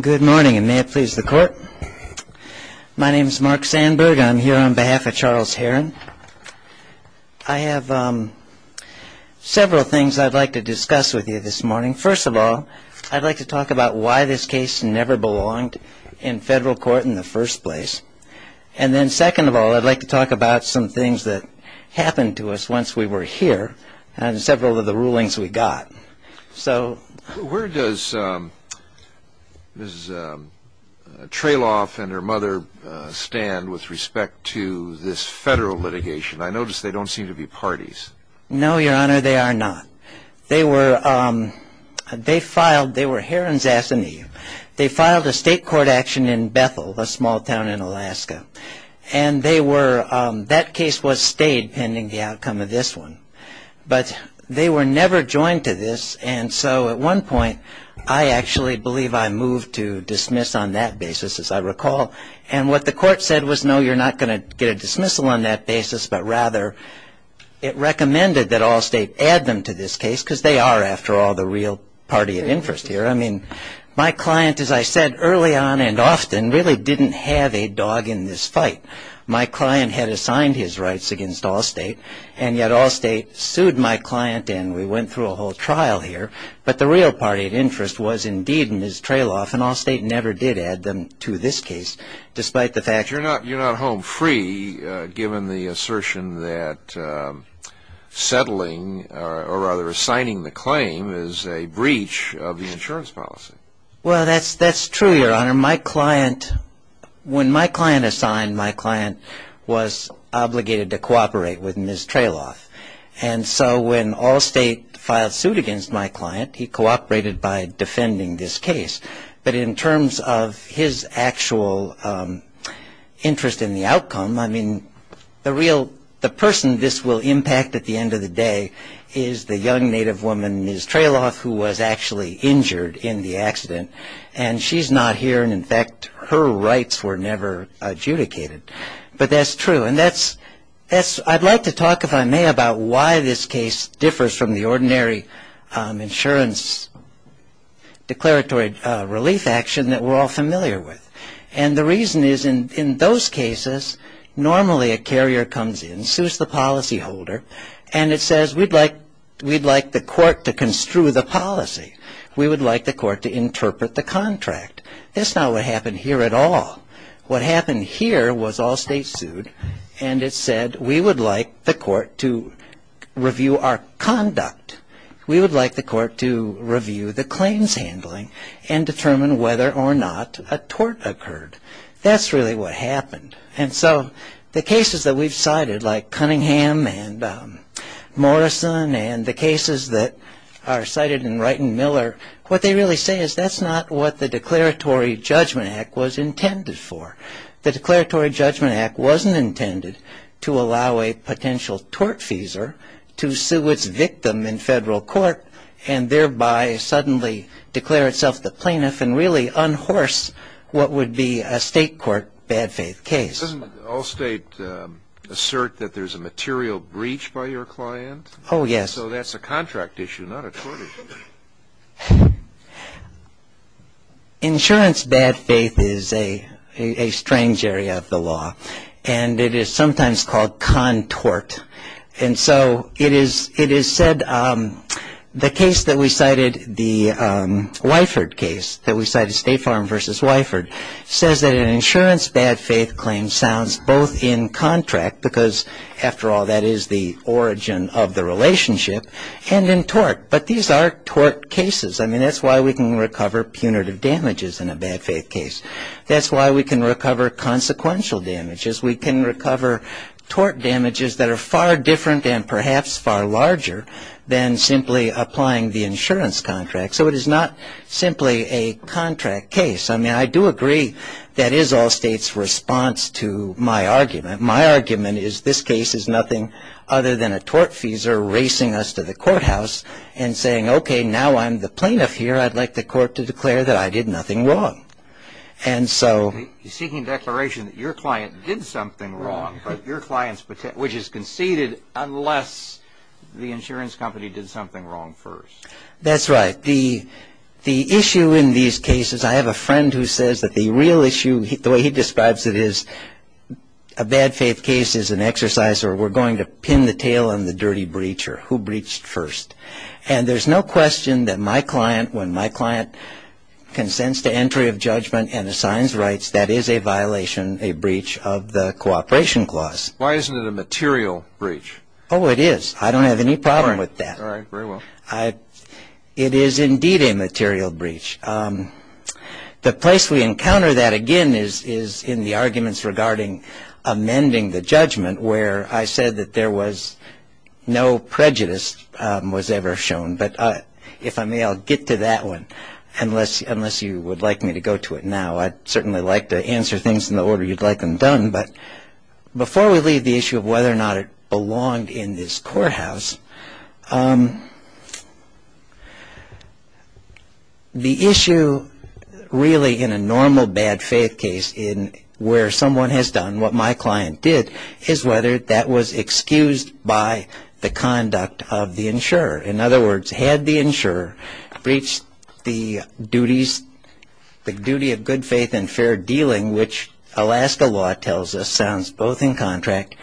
Good morning, and may it please the court. My name is Mark Sandberg. I'm here on behalf of Charles Herron. I have several things I'd like to discuss with you this morning. First of all, I'd like to talk about why this case never belonged in federal court in the first place. And then second of all, I'd like to talk about some things that happened to us once we were here and several of the rulings we got. Where does Mrs. Treloff and her mother stand with respect to this federal litigation? I notice they don't seem to be parties. No, Your Honor, they are not. They were Herron's ass and eve. They filed a state court action in Bethel, a small town in Alaska, and that case was stayed pending the outcome of this one. But they were never joined to this, and so at one point, I actually believe I moved to dismiss on that basis, as I recall. And what the court said was, no, you're not going to get a dismissal on that basis, but rather it recommended that Allstate add them to this case because they are, after all, the real party of interest here. I mean, my client, as I said early on and often, really didn't have a dog in this fight. My client had assigned his rights against Allstate, and yet Allstate sued my client and we went through a whole trial here. But the real party of interest was indeed Mrs. Treloff, and Allstate never did add them to this case, despite the fact that... But you're not home free, given the assertion that settling, or rather assigning the claim, is a breach of the insurance policy. Well, that's true, Your Honor. My client, when my client assigned, my client was obligated to cooperate with Ms. Treloff. And so when Allstate filed suit against my client, he cooperated by defending this case. But in terms of his actual interest in the outcome, I mean, the person this will impact at the end of the day is the young native woman, Ms. Treloff, who was actually injured in the accident. And she's not here, and in fact, her rights were never adjudicated. But that's true. And I'd like to talk, if I may, about why this case differs from the ordinary insurance declaratory relief action that we're all familiar with. And the reason is, in those cases, normally a carrier comes in, sues the policyholder, and it says, we'd like the court to construe the policy. We would like the court to interpret the contract. That's not what happened here at all. What happened here was Allstate sued, and it said, we would like the court to review our conduct. We would like the court to review the claims handling and determine whether or not a tort occurred. That's really what happened. And so the cases that we've cited, like Cunningham and Morrison and the cases that are cited in Wright and Miller, what they really say is that's not what the Declaratory Judgment Act was intended for. The Declaratory Judgment Act wasn't intended to allow a potential tortfeasor to sue its victim in federal court and thereby suddenly declare itself the plaintiff and really unhorse what would be a state court bad faith case. Doesn't Allstate assert that there's a material breach by your client? Oh, yes. So that's a contract issue, not a tort issue. Insurance bad faith is a strange area of the law, and it is sometimes called contort. And so it is said the case that we cited, the Weifert case that we cited, State Farm versus Weifert, says that an insurance bad faith claim sounds both in contract, because after all, that is the origin of the relationship, and in tort. But these are tort cases. I mean, that's why we can recover punitive damages in a bad faith case. That's why we can recover consequential damages. We can recover tort damages that are far different and perhaps far larger than simply applying the insurance contract. So it is not simply a contract case. I mean, I do agree that is Allstate's response to my argument. My argument is this case is nothing other than a tortfeasor racing us to the courthouse and saying, okay, now I'm the plaintiff here. I'd like the court to declare that I did nothing wrong. And so... He's seeking declaration that your client did something wrong, but your client's, which is conceded unless the insurance company did something wrong first. That's right. But the issue in these cases, I have a friend who says that the real issue, the way he describes it is a bad faith case is an exercise or we're going to pin the tail on the dirty breacher, who breached first. And there's no question that my client, when my client consents to entry of judgment and assigns rights, that is a violation, a breach of the cooperation clause. Why isn't it a material breach? Oh, it is. I don't have any problem with that. All right. Very well. It is indeed a material breach. The place we encounter that, again, is in the arguments regarding amending the judgment where I said that there was no prejudice was ever shown. But if I may, I'll get to that one unless you would like me to go to it now. I'd certainly like to answer things in the order you'd like them done. But before we leave the issue of whether or not it belonged in this courthouse, the issue really in a normal bad faith case where someone has done what my client did is whether that was excused by the conduct of the insurer. In other words, had the insurer breached the duty of good faith and fair dealing, which Alaska law tells us sounds both in contract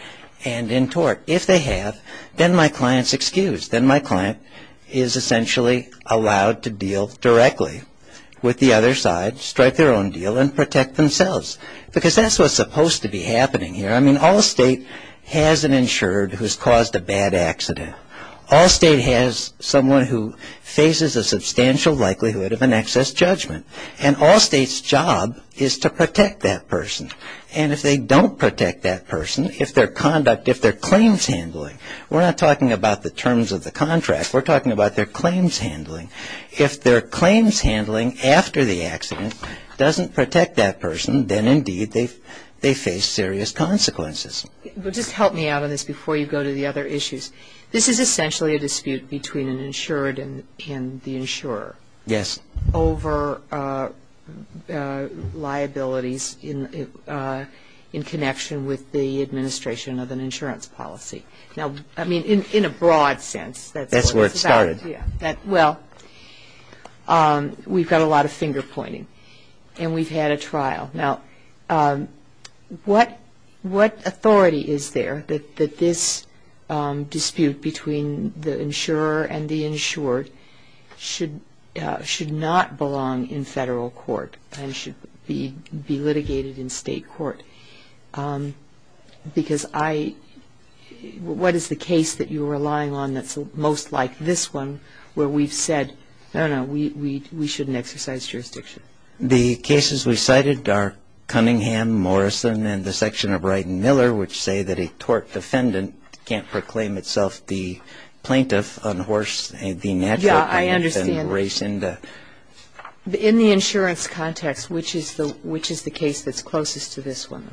and in tort. If they have, then my client's excused. Then my client is essentially allowed to deal directly with the other side, strike their own deal, and protect themselves. Because that's what's supposed to be happening here. I mean, all state has an insurer who's caused a bad accident. All state has someone who faces a substantial likelihood of an excess judgment. And all state's job is to protect that person. And if they don't protect that person, if their conduct, if their claims handling, we're not talking about the terms of the contract. We're talking about their claims handling. If their claims handling after the accident doesn't protect that person, then indeed they face serious consequences. Just help me out on this before you go to the other issues. This is essentially a dispute between an insured and the insurer. Yes. Over liabilities in connection with the administration of an insurance policy. Now, I mean, in a broad sense. That's where it started. Yeah. Well, we've got a lot of finger pointing. And we've had a trial. Now, what authority is there that this dispute between the insurer and the insured should not belong in federal court and should be litigated in state court? Because I, what is the case that you're relying on that's most like this one where we've said, no, no, we shouldn't exercise jurisdiction? The cases we cited are Cunningham, Morrison, and the section of Wright and Miller, which say that a tort defendant can't proclaim itself the plaintiff on horse, the natural. Yeah, I understand. In the insurance context, which is the case that's closest to this one?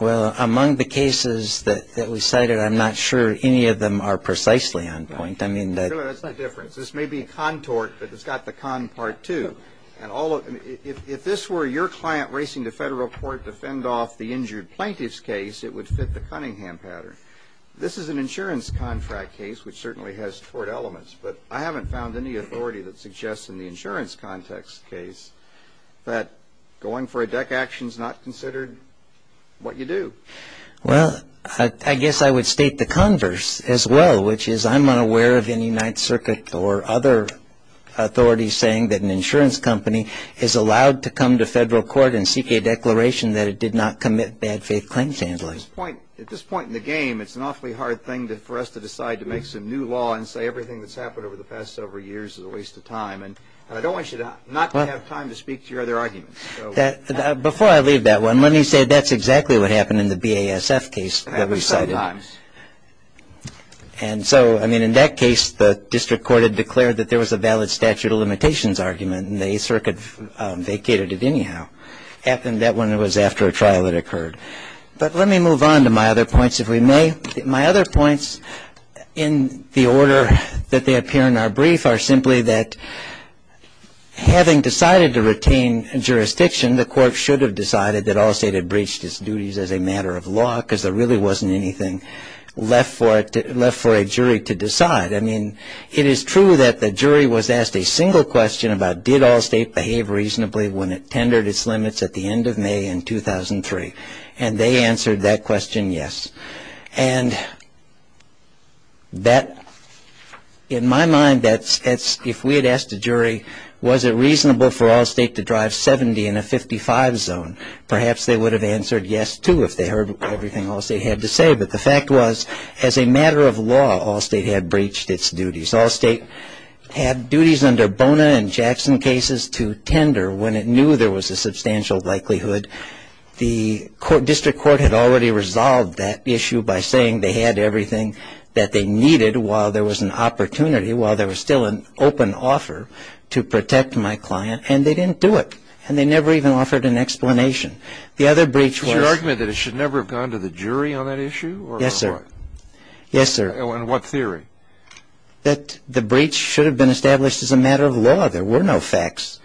Well, among the cases that we cited, I'm not sure any of them are precisely on point. I mean, that's the difference. This may be contort, but it's got the con part, too. And if this were your client racing to federal court to fend off the injured plaintiff's case, it would fit the Cunningham pattern. This is an insurance contract case, which certainly has tort elements. But I haven't found any authority that suggests in the insurance context case that going for a deck action is not considered what you do. Well, I guess I would state the converse as well, which is I'm unaware of any Ninth Circuit or other authorities saying that an insurance company is allowed to come to federal court and seek a declaration that it did not commit bad faith claims handling. At this point in the game, it's an awfully hard thing for us to decide to make some new law and say everything that's happened over the past several years is a waste of time. And I don't want you to not have time to speak to your other arguments. Before I leave that one, let me say that's exactly what happened in the BASF case that we cited. And so, I mean, in that case, the district court had declared that there was a valid statute of limitations argument, and the Eighth Circuit vacated it anyhow. That one was after a trial had occurred. But let me move on to my other points, if we may. My other points in the order that they appear in our brief are simply that having decided to retain jurisdiction, the court should have decided that Allstate had breached its duties as a matter of law because there really wasn't anything left for a jury to decide. I mean, it is true that the jury was asked a single question about did Allstate behave reasonably when it tendered its limits at the end of May in 2003, and they answered that question, yes. And that, in my mind, if we had asked a jury was it reasonable for Allstate to drive 70 in a 55 zone, perhaps they would have answered yes, too, if they heard everything Allstate had to say. But the fact was, as a matter of law, Allstate had breached its duties. Allstate had duties under Bona and Jackson cases to tender when it knew there was a substantial likelihood. The district court had already resolved that issue by saying they had everything that they needed while there was an opportunity, while there was still an open offer to protect my client, and they didn't do it. And they never even offered an explanation. The other breach was ---- Is your argument that it should never have gone to the jury on that issue or what? Yes, sir. Yes, sir. In what theory? That the breach should have been established as a matter of law. There were no facts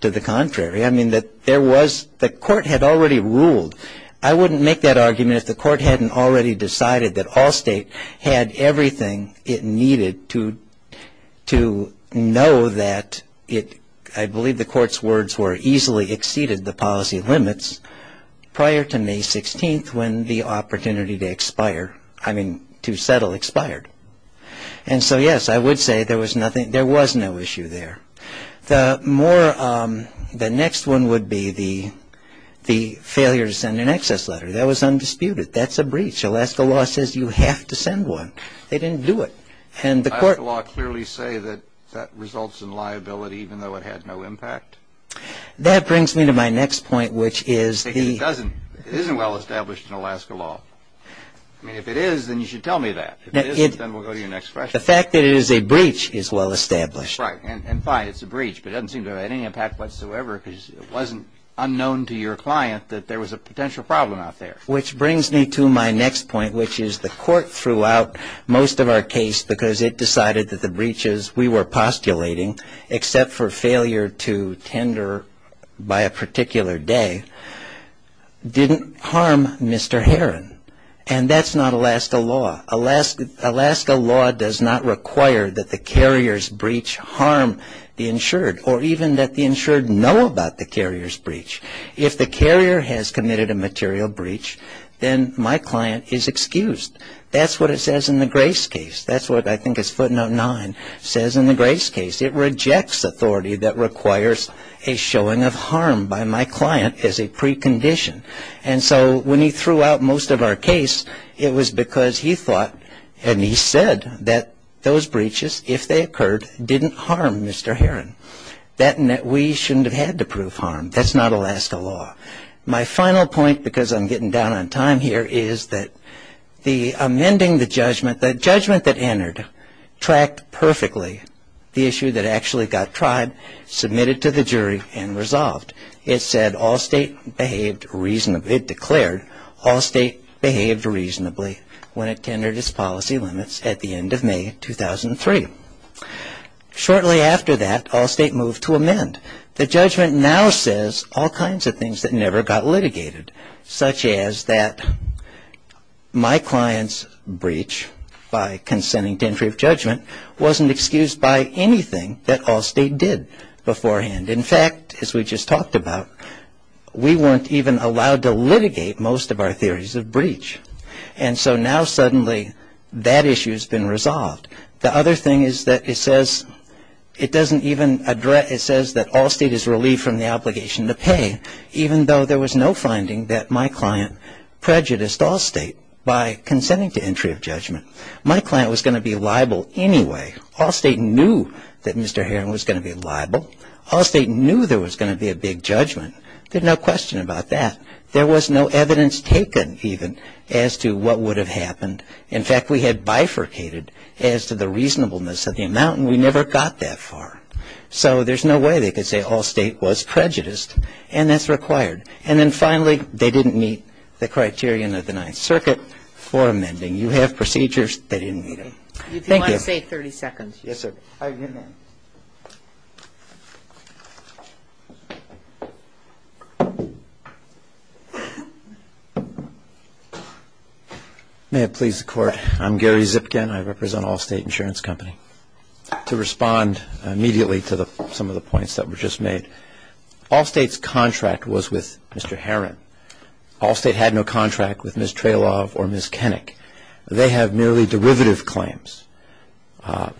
to the contrary. I mean, that there was ---- the court had already ruled. I wouldn't make that argument if the court hadn't already decided that Allstate had everything it needed to know that it ---- I believe the court's words were easily exceeded the policy limits prior to May 16th when the opportunity to expire, I mean, to settle expired. And so, yes, I would say there was nothing ---- there was no issue there. The more ---- the next one would be the failure to send an excess letter. That was undisputed. That's a breach. Alaska law says you have to send one. They didn't do it. And the court ---- Did Alaska law clearly say that that results in liability even though it had no impact? That brings me to my next point, which is the ---- I mean, if it is, then you should tell me that. If it isn't, then we'll go to your next question. The fact that it is a breach is well established. Right. And fine, it's a breach, but it doesn't seem to have any impact whatsoever because it wasn't unknown to your client that there was a potential problem out there. Which brings me to my next point, which is the court threw out most of our case because it decided that the breaches we were postulating, except for failure to tender by a particular day, didn't harm Mr. Herron. And that's not Alaska law. Alaska law does not require that the carrier's breach harm the insured or even that the insured know about the carrier's breach. If the carrier has committed a material breach, then my client is excused. That's what it says in the Grace case. That's what I think is footnote 9 says in the Grace case. It rejects authority that requires a showing of harm by my client as a precondition. And so when he threw out most of our case, it was because he thought and he said that those breaches, if they occurred, didn't harm Mr. Herron. That and that we shouldn't have had to prove harm. That's not Alaska law. My final point, because I'm getting down on time here, is that the amending the judgment, the judgment that entered, tracked perfectly the issue that actually got tried, submitted to the jury, and resolved. It said all state behaved reasonably. It declared all state behaved reasonably when it tendered its policy limits at the end of May 2003. And the judgment now says all kinds of things that never got litigated, such as that my client's breach by consenting to entry of judgment wasn't excused by anything that all state did beforehand. In fact, as we just talked about, we weren't even allowed to litigate most of our theories of breach. And so now suddenly that issue has been resolved. The other thing is that it says it doesn't even address, it says that all state is relieved from the obligation to pay, even though there was no finding that my client prejudiced all state by consenting to entry of judgment. My client was going to be liable anyway. All state knew that Mr. Herron was going to be liable. All state knew there was going to be a big judgment. There's no question about that. There was no evidence taken even as to what would have happened. In fact, we had bifurcated as to the reasonableness of the amount, and we never got that far. So there's no way they could say all state was prejudiced, and that's required. And then finally, they didn't meet the criterion of the Ninth Circuit for amending. You have procedures. They didn't meet them. Thank you. May I say 30 seconds? Yes, sir. May it please the Court. I'm Gary Zipkin. I represent Allstate Insurance Company. To respond immediately to some of the points that were just made, Allstate's contract was with Mr. Herron. Allstate had no contract with Ms. Treloff or Ms. Kenick. They have merely derivative claims.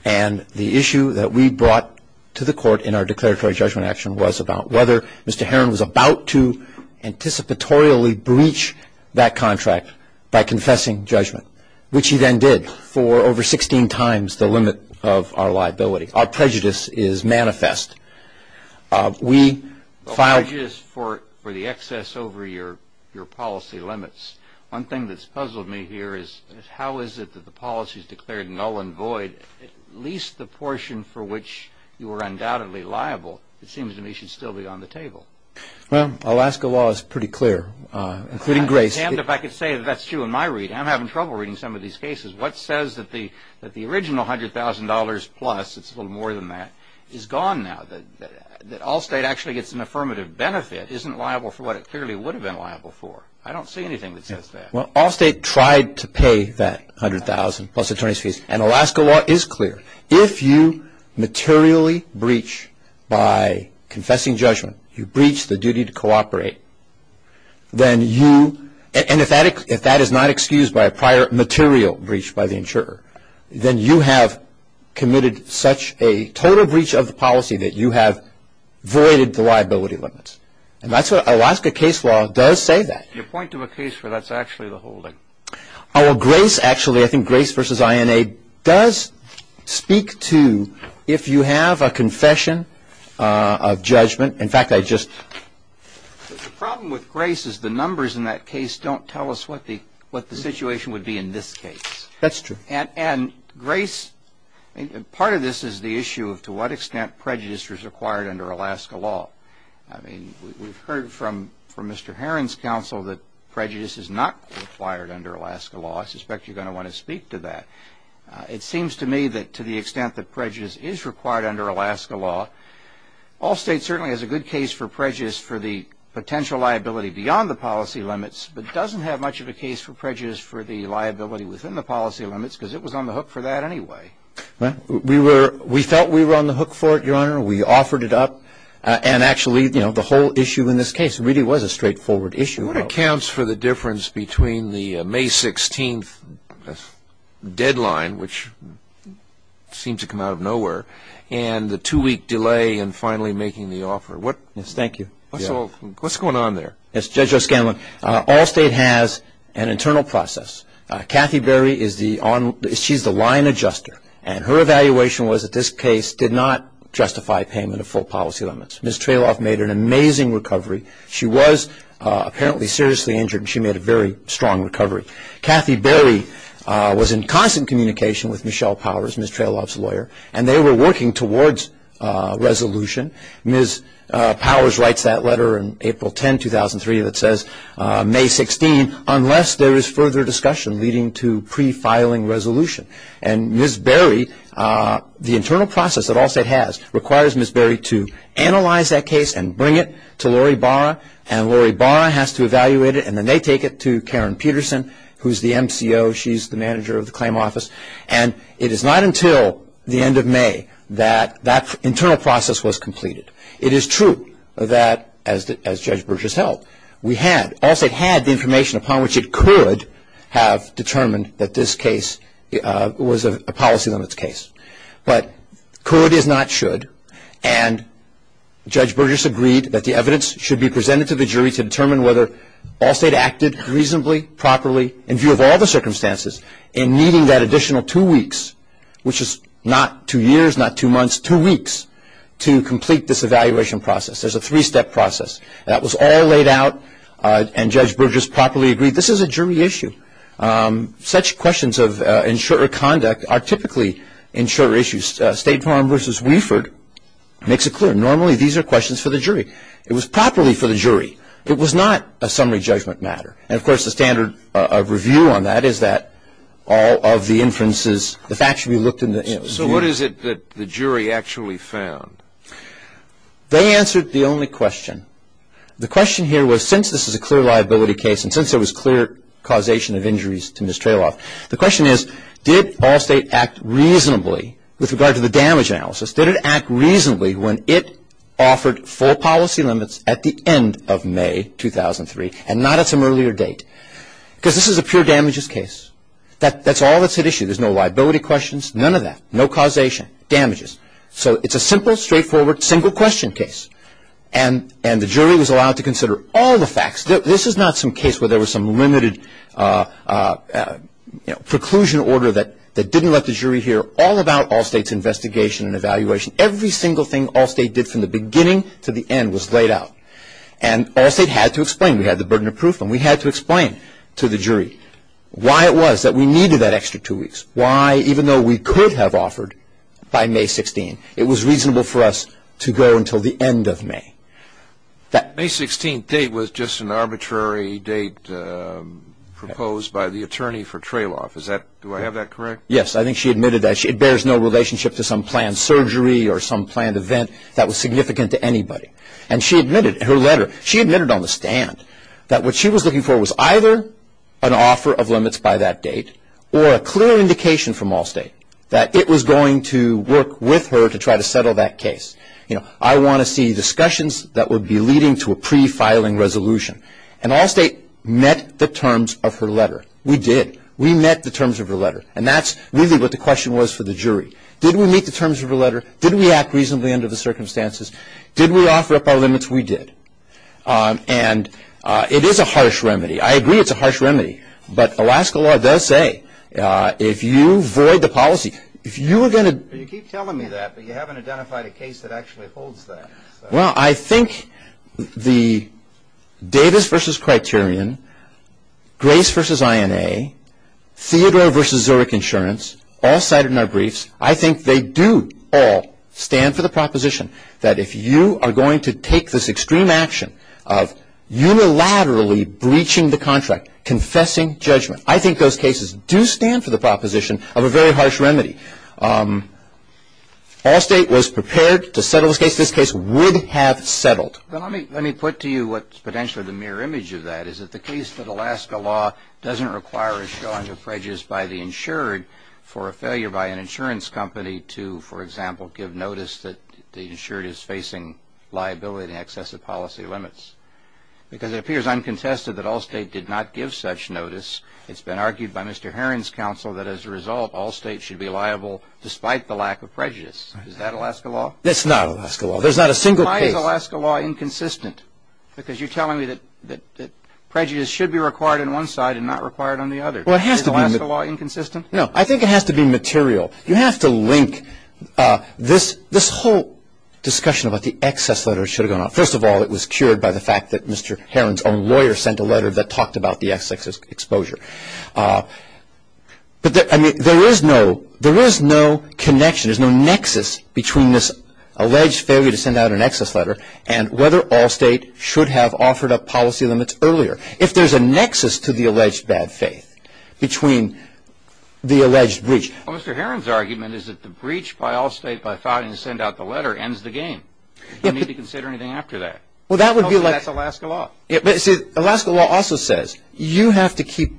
And the issue that we brought to the Court in our declaratory judgment action was about whether Mr. Herron was about to anticipatorily breach that contract by confessing judgment, which he then did for over 16 times the limit of our liability. Our prejudice is manifest. We filed- The prejudice for the excess over your policy limits. One thing that's puzzled me here is how is it that the policies declared null and void, at least the portion for which you were undoubtedly liable, it seems to me should still be on the table. Well, Alaska law is pretty clear, including grace. If I could say that's true in my reading. I'm having trouble reading some of these cases. What says that the original $100,000 plus, it's a little more than that, is gone now? That Allstate actually gets an affirmative benefit isn't liable for what it clearly would have been liable for. I don't see anything that says that. Well, Allstate tried to pay that $100,000 plus attorney's fees, and Alaska law is clear. If you materially breach by confessing judgment, you breach the duty to cooperate, then you, and if that is not excused by a prior material breach by the insurer, then you have committed such a total breach of the policy that you have voided the liability limits. And that's what Alaska case law does say that. You point to a case where that's actually the holding. Well, grace actually, I think grace versus INA does speak to if you have a confession of judgment. In fact, I just. The problem with grace is the numbers in that case don't tell us what the situation would be in this case. That's true. And grace, part of this is the issue of to what extent prejudice was acquired under Alaska law. I mean, we've heard from Mr. Heron's counsel that prejudice is not acquired under Alaska law. I suspect you're going to want to speak to that. It seems to me that to the extent that prejudice is required under Alaska law, Allstate certainly has a good case for prejudice for the potential liability beyond the policy limits, but doesn't have much of a case for prejudice for the liability within the policy limits, because it was on the hook for that anyway. We felt we were on the hook for it, Your Honor. We offered it up, and actually, you know, the whole issue in this case really was a straightforward issue. What accounts for the difference between the May 16th deadline, which seemed to come out of nowhere, and the two-week delay in finally making the offer? Yes, thank you. What's going on there? Yes, Judge O'Scanlan, Allstate has an internal process. Kathy Berry is the line adjuster, and her evaluation was that this case did not justify payment of full policy limits. Ms. Trayloff made an amazing recovery. She was apparently seriously injured, and she made a very strong recovery. Kathy Berry was in constant communication with Michelle Powers, Ms. Trayloff's lawyer, and they were working towards resolution. Ms. Powers writes that letter in April 10, 2003, that says May 16, unless there is further discussion leading to pre-filing resolution. And Ms. Berry, the internal process that Allstate has requires Ms. Berry to analyze that case and bring it to Lori Barra, and Lori Barra has to evaluate it, and then they take it to Karen Peterson, who's the MCO. She's the manager of the claim office, and it is not until the end of May that that internal process was completed. It is true that, as Judge Burgess held, we had, Allstate had the information upon which it could have determined that this case was a policy limits case. But could is not should, and Judge Burgess agreed that the evidence should be presented to the jury to determine whether Allstate acted reasonably, properly, in view of all the circumstances, in needing that additional two weeks, which is not two years, not two months, two weeks, to complete this evaluation process. There's a three-step process. That was all laid out, and Judge Burgess properly agreed this is a jury issue. Such questions of insurer conduct are typically insurer issues. State Farm v. Weiford makes it clear, normally these are questions for the jury. It was properly for the jury. It was not a summary judgment matter. And, of course, the standard of review on that is that all of the inferences, the facts should be looked into. So what is it that the jury actually found? They answered the only question. The question here was, since this is a clear liability case, and since there was clear causation of injuries to Ms. Trayloff, the question is, did Allstate act reasonably with regard to the damage analysis? Did it act reasonably when it offered full policy limits at the end of May 2003 and not at some earlier date? Because this is a pure damages case. That's all that's at issue. There's no liability questions, none of that, no causation, damages. So it's a simple, straightforward, single-question case. And the jury was allowed to consider all the facts. This is not some case where there was some limited, you know, We brought the jury here all about Allstate's investigation and evaluation. Every single thing Allstate did from the beginning to the end was laid out. And Allstate had to explain. We had the burden of proof, and we had to explain to the jury why it was that we needed that extra two weeks, why, even though we could have offered by May 16th, it was reasonable for us to go until the end of May. That May 16th date was just an arbitrary date proposed by the attorney for Trayloff. Do I have that correct? Yes, I think she admitted that. It bears no relationship to some planned surgery or some planned event that was significant to anybody. And she admitted, her letter, she admitted on the stand that what she was looking for was either an offer of limits by that date or a clear indication from Allstate that it was going to work with her to try to settle that case. You know, I want to see discussions that would be leading to a prefiling resolution. And Allstate met the terms of her letter. We did. We met the terms of her letter. And that's really what the question was for the jury. Did we meet the terms of her letter? Did we act reasonably under the circumstances? Did we offer up our limits? We did. And it is a harsh remedy. I agree it's a harsh remedy. But Alaska law does say if you void the policy, if you were going to… You keep telling me that, but you haven't identified a case that actually holds that. Well, I think the Davis v. Criterion, Grace v. INA, Theodore v. Zurich Insurance, all cited in our briefs, I think they do all stand for the proposition that if you are going to take this extreme action of unilaterally breaching the contract, confessing judgment, I think those cases do stand for the proposition of a very harsh remedy. Allstate was prepared to settle this case. This case would have settled. But let me put to you what's potentially the mirror image of that, is that the case that Alaska law doesn't require a showing of prejudice by the insured for a failure by an insurance company to, for example, give notice that the insured is facing liability and excessive policy limits. Because it appears uncontested that Allstate did not give such notice. It's been argued by Mr. Heron's counsel that as a result, Allstate should be liable despite the lack of prejudice. Is that Alaska law? That's not Alaska law. There's not a single case. Why is Alaska law inconsistent? Because you're telling me that prejudice should be required on one side and not required on the other. Well, it has to be. Is Alaska law inconsistent? No, I think it has to be material. You have to link this whole discussion about the excess letters should have gone out. First of all, it was cured by the fact that Mr. Heron's own lawyer sent a letter that talked about the excess exposure. But there is no connection. There's no nexus between this alleged failure to send out an excess letter and whether Allstate should have offered up policy limits earlier. If there's a nexus to the alleged bad faith between the alleged breach. Well, Mr. Heron's argument is that the breach by Allstate by filing to send out the letter ends the game. You don't need to consider anything after that. Well, that would be like. That's Alaska law. See, Alaska law also says you have to keep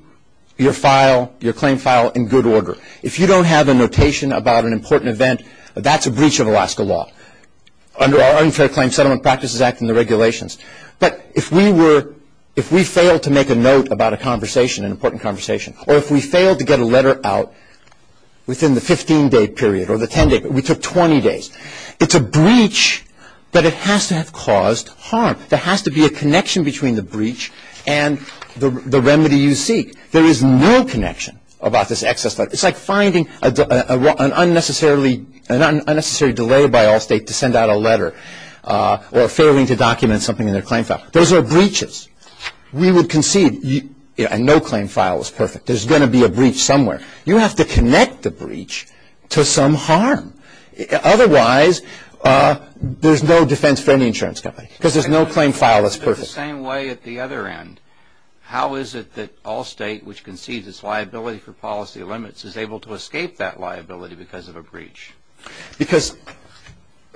your file, your claim file in good order. If you don't have a notation about an important event, that's a breach of Alaska law under our Unfair Claims Settlement Practices Act and the regulations. But if we were, if we failed to make a note about a conversation, an important conversation, or if we failed to get a letter out within the 15-day period or the 10-day period, we took 20 days. It's a breach, but it has to have caused harm. There has to be a connection between the breach and the remedy you seek. There is no connection about this excess letter. It's like finding an unnecessary delay by Allstate to send out a letter or failing to document something in their claim file. Those are breaches. We would concede a no-claim file is perfect. There's going to be a breach somewhere. You have to connect the breach to some harm. Otherwise, there's no defense for any insurance company because there's no claim file that's perfect. If you look at it the same way at the other end, how is it that Allstate, which concedes its liability for policy limits, is able to escape that liability because of a breach? Because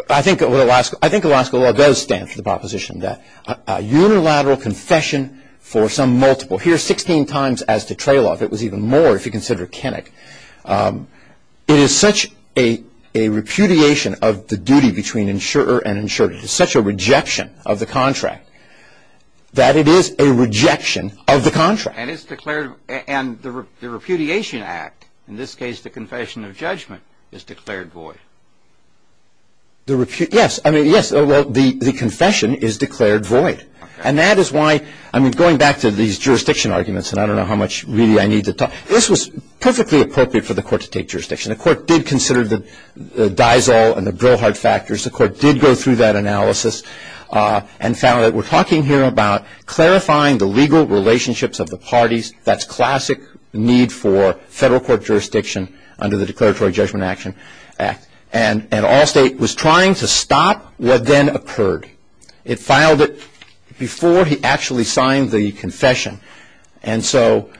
I think Alaska law does stand for the proposition that a unilateral confession for some multiple. Here, 16 times as the trail off. It was even more if you consider Kenick. It is such a repudiation of the duty between insurer and insured. It is such a rejection of the contract that it is a rejection of the contract. And the repudiation act, in this case the confession of judgment, is declared void. Yes. The confession is declared void. And that is why, going back to these jurisdiction arguments, and I don't know how much really I need to talk. This was perfectly appropriate for the court to take jurisdiction. The court did consider the Diesel and the Brillhart factors. The court did go through that analysis and found that we're talking here about clarifying the legal relationships of the parties. That's classic need for federal court jurisdiction under the Declaratory Judgment Action Act. And Allstate was trying to stop what then occurred. It filed it before he actually signed the confession. And so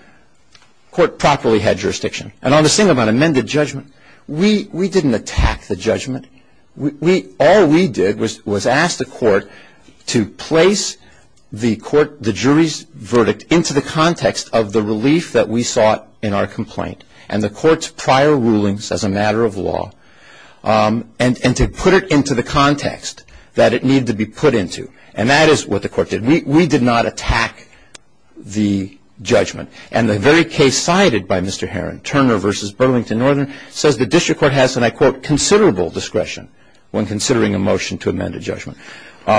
court properly had jurisdiction. And on the same amount, amended judgment. We didn't attack the judgment. All we did was ask the court to place the jury's verdict into the context of the relief that we saw in our complaint and the court's prior rulings as a matter of law and to put it into the context that it needed to be put into. And that is what the court did. We did not attack the judgment. And the very case cited by Mr. Herron, Turner v. Burlington Northern, says the district court has, and I quote, considerable discretion when considering a motion to amend a judgment.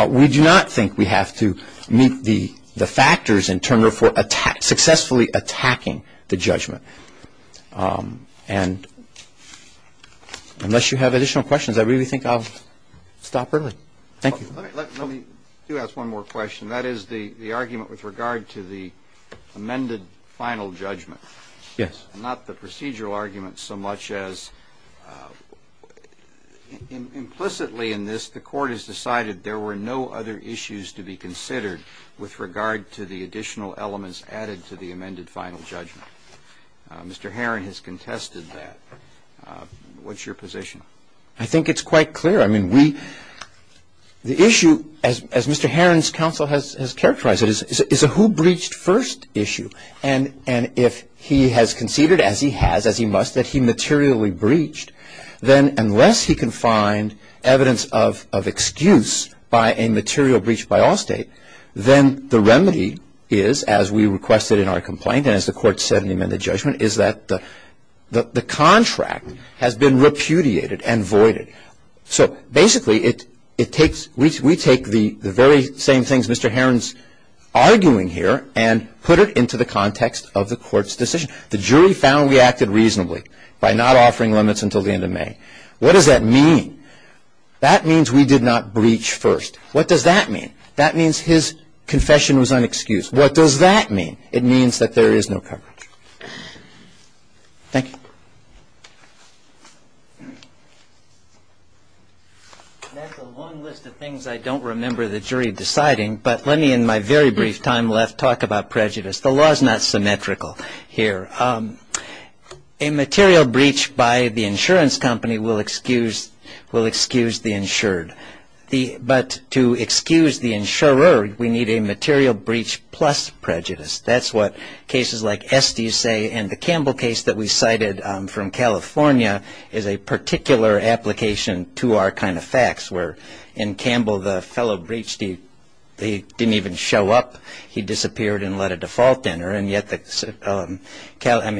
We do not think we have to meet the factors in Turner for successfully attacking the judgment. And unless you have additional questions, I really think I'll stop early. Thank you. Let me do ask one more question. That is the argument with regard to the amended final judgment. Yes. And not the procedural argument so much as implicitly in this the court has decided there were no other issues to be considered with regard to the additional elements added to the amended final judgment. Mr. Herron has contested that. What's your position? I think it's quite clear. The issue, as Mr. Herron's counsel has characterized it, is a who breached first issue. And if he has conceded, as he has, as he must, that he materially breached, then unless he can find evidence of excuse by a material breach by all state, then the remedy is, as we requested in our complaint and as the court said in the amended judgment, is that the contract has been repudiated and voided. So basically, we take the very same things Mr. Herron's arguing here and put it into the context of the court's decision. The jury found we acted reasonably by not offering limits until the end of May. What does that mean? That means we did not breach first. What does that mean? That means his confession was unexcused. What does that mean? It means that there is no coverage. Thank you. That's a long list of things I don't remember the jury deciding, but let me in my very brief time left talk about prejudice. The law is not symmetrical here. A material breach by the insurance company will excuse the insured. But to excuse the insurer, we need a material breach plus prejudice. That's what cases like Esty say, and the Campbell case that we cited from California is a particular application to our kind of facts, where in Campbell the fellow breached, he didn't even show up. He disappeared and let a default enter. And yet, I mean,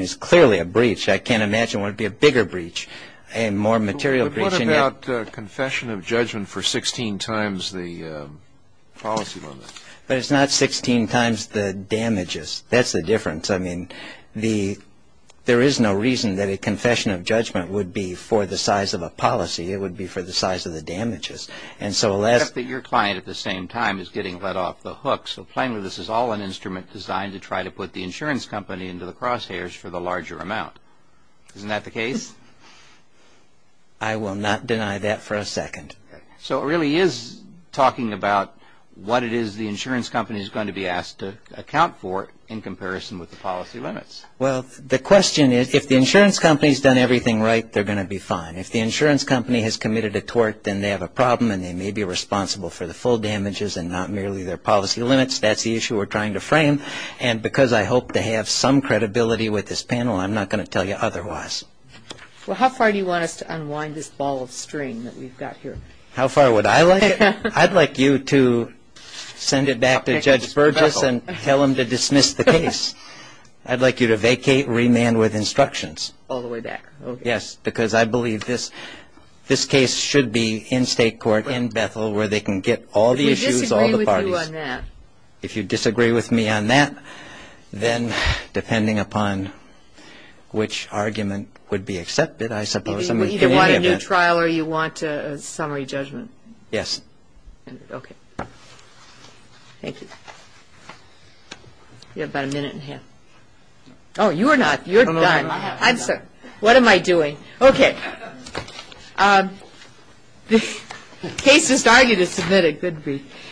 it's clearly a breach. I can't imagine what would be a bigger breach, a more material breach. But what about confession of judgment for 16 times the policy limit? But it's not 16 times the damages. That's the difference. I mean, there is no reason that a confession of judgment would be for the size of a policy. It would be for the size of the damages. And so, alas. Except that your client at the same time is getting let off the hook. So, plainly, this is all an instrument designed to try to put the insurance company into the crosshairs for the larger amount. Isn't that the case? I will not deny that for a second. So, it really is talking about what it is the insurance company is going to be asked to account for in comparison with the policy limits. Well, the question is, if the insurance company has done everything right, they're going to be fine. If the insurance company has committed a tort, then they have a problem and they may be responsible for the full damages and not merely their policy limits. That's the issue we're trying to frame. And because I hope to have some credibility with this panel, I'm not going to tell you otherwise. Well, how far do you want us to unwind this ball of string that we've got here? How far would I like it? I'd like you to send it back to Judge Burgess and tell him to dismiss the case. I'd like you to vacate remand with instructions. All the way back. Yes, because I believe this case should be in state court, in Bethel, where they can get all the issues, all the parties. If we disagree with you on that. Then depending upon which argument would be accepted, I suppose. You either want a new trial or you want a summary judgment. Yes. Okay. Thank you. You have about a minute and a half. Oh, you're not. You're done. I'm sorry. What am I doing? Okay. The case is already submitted. Good grief.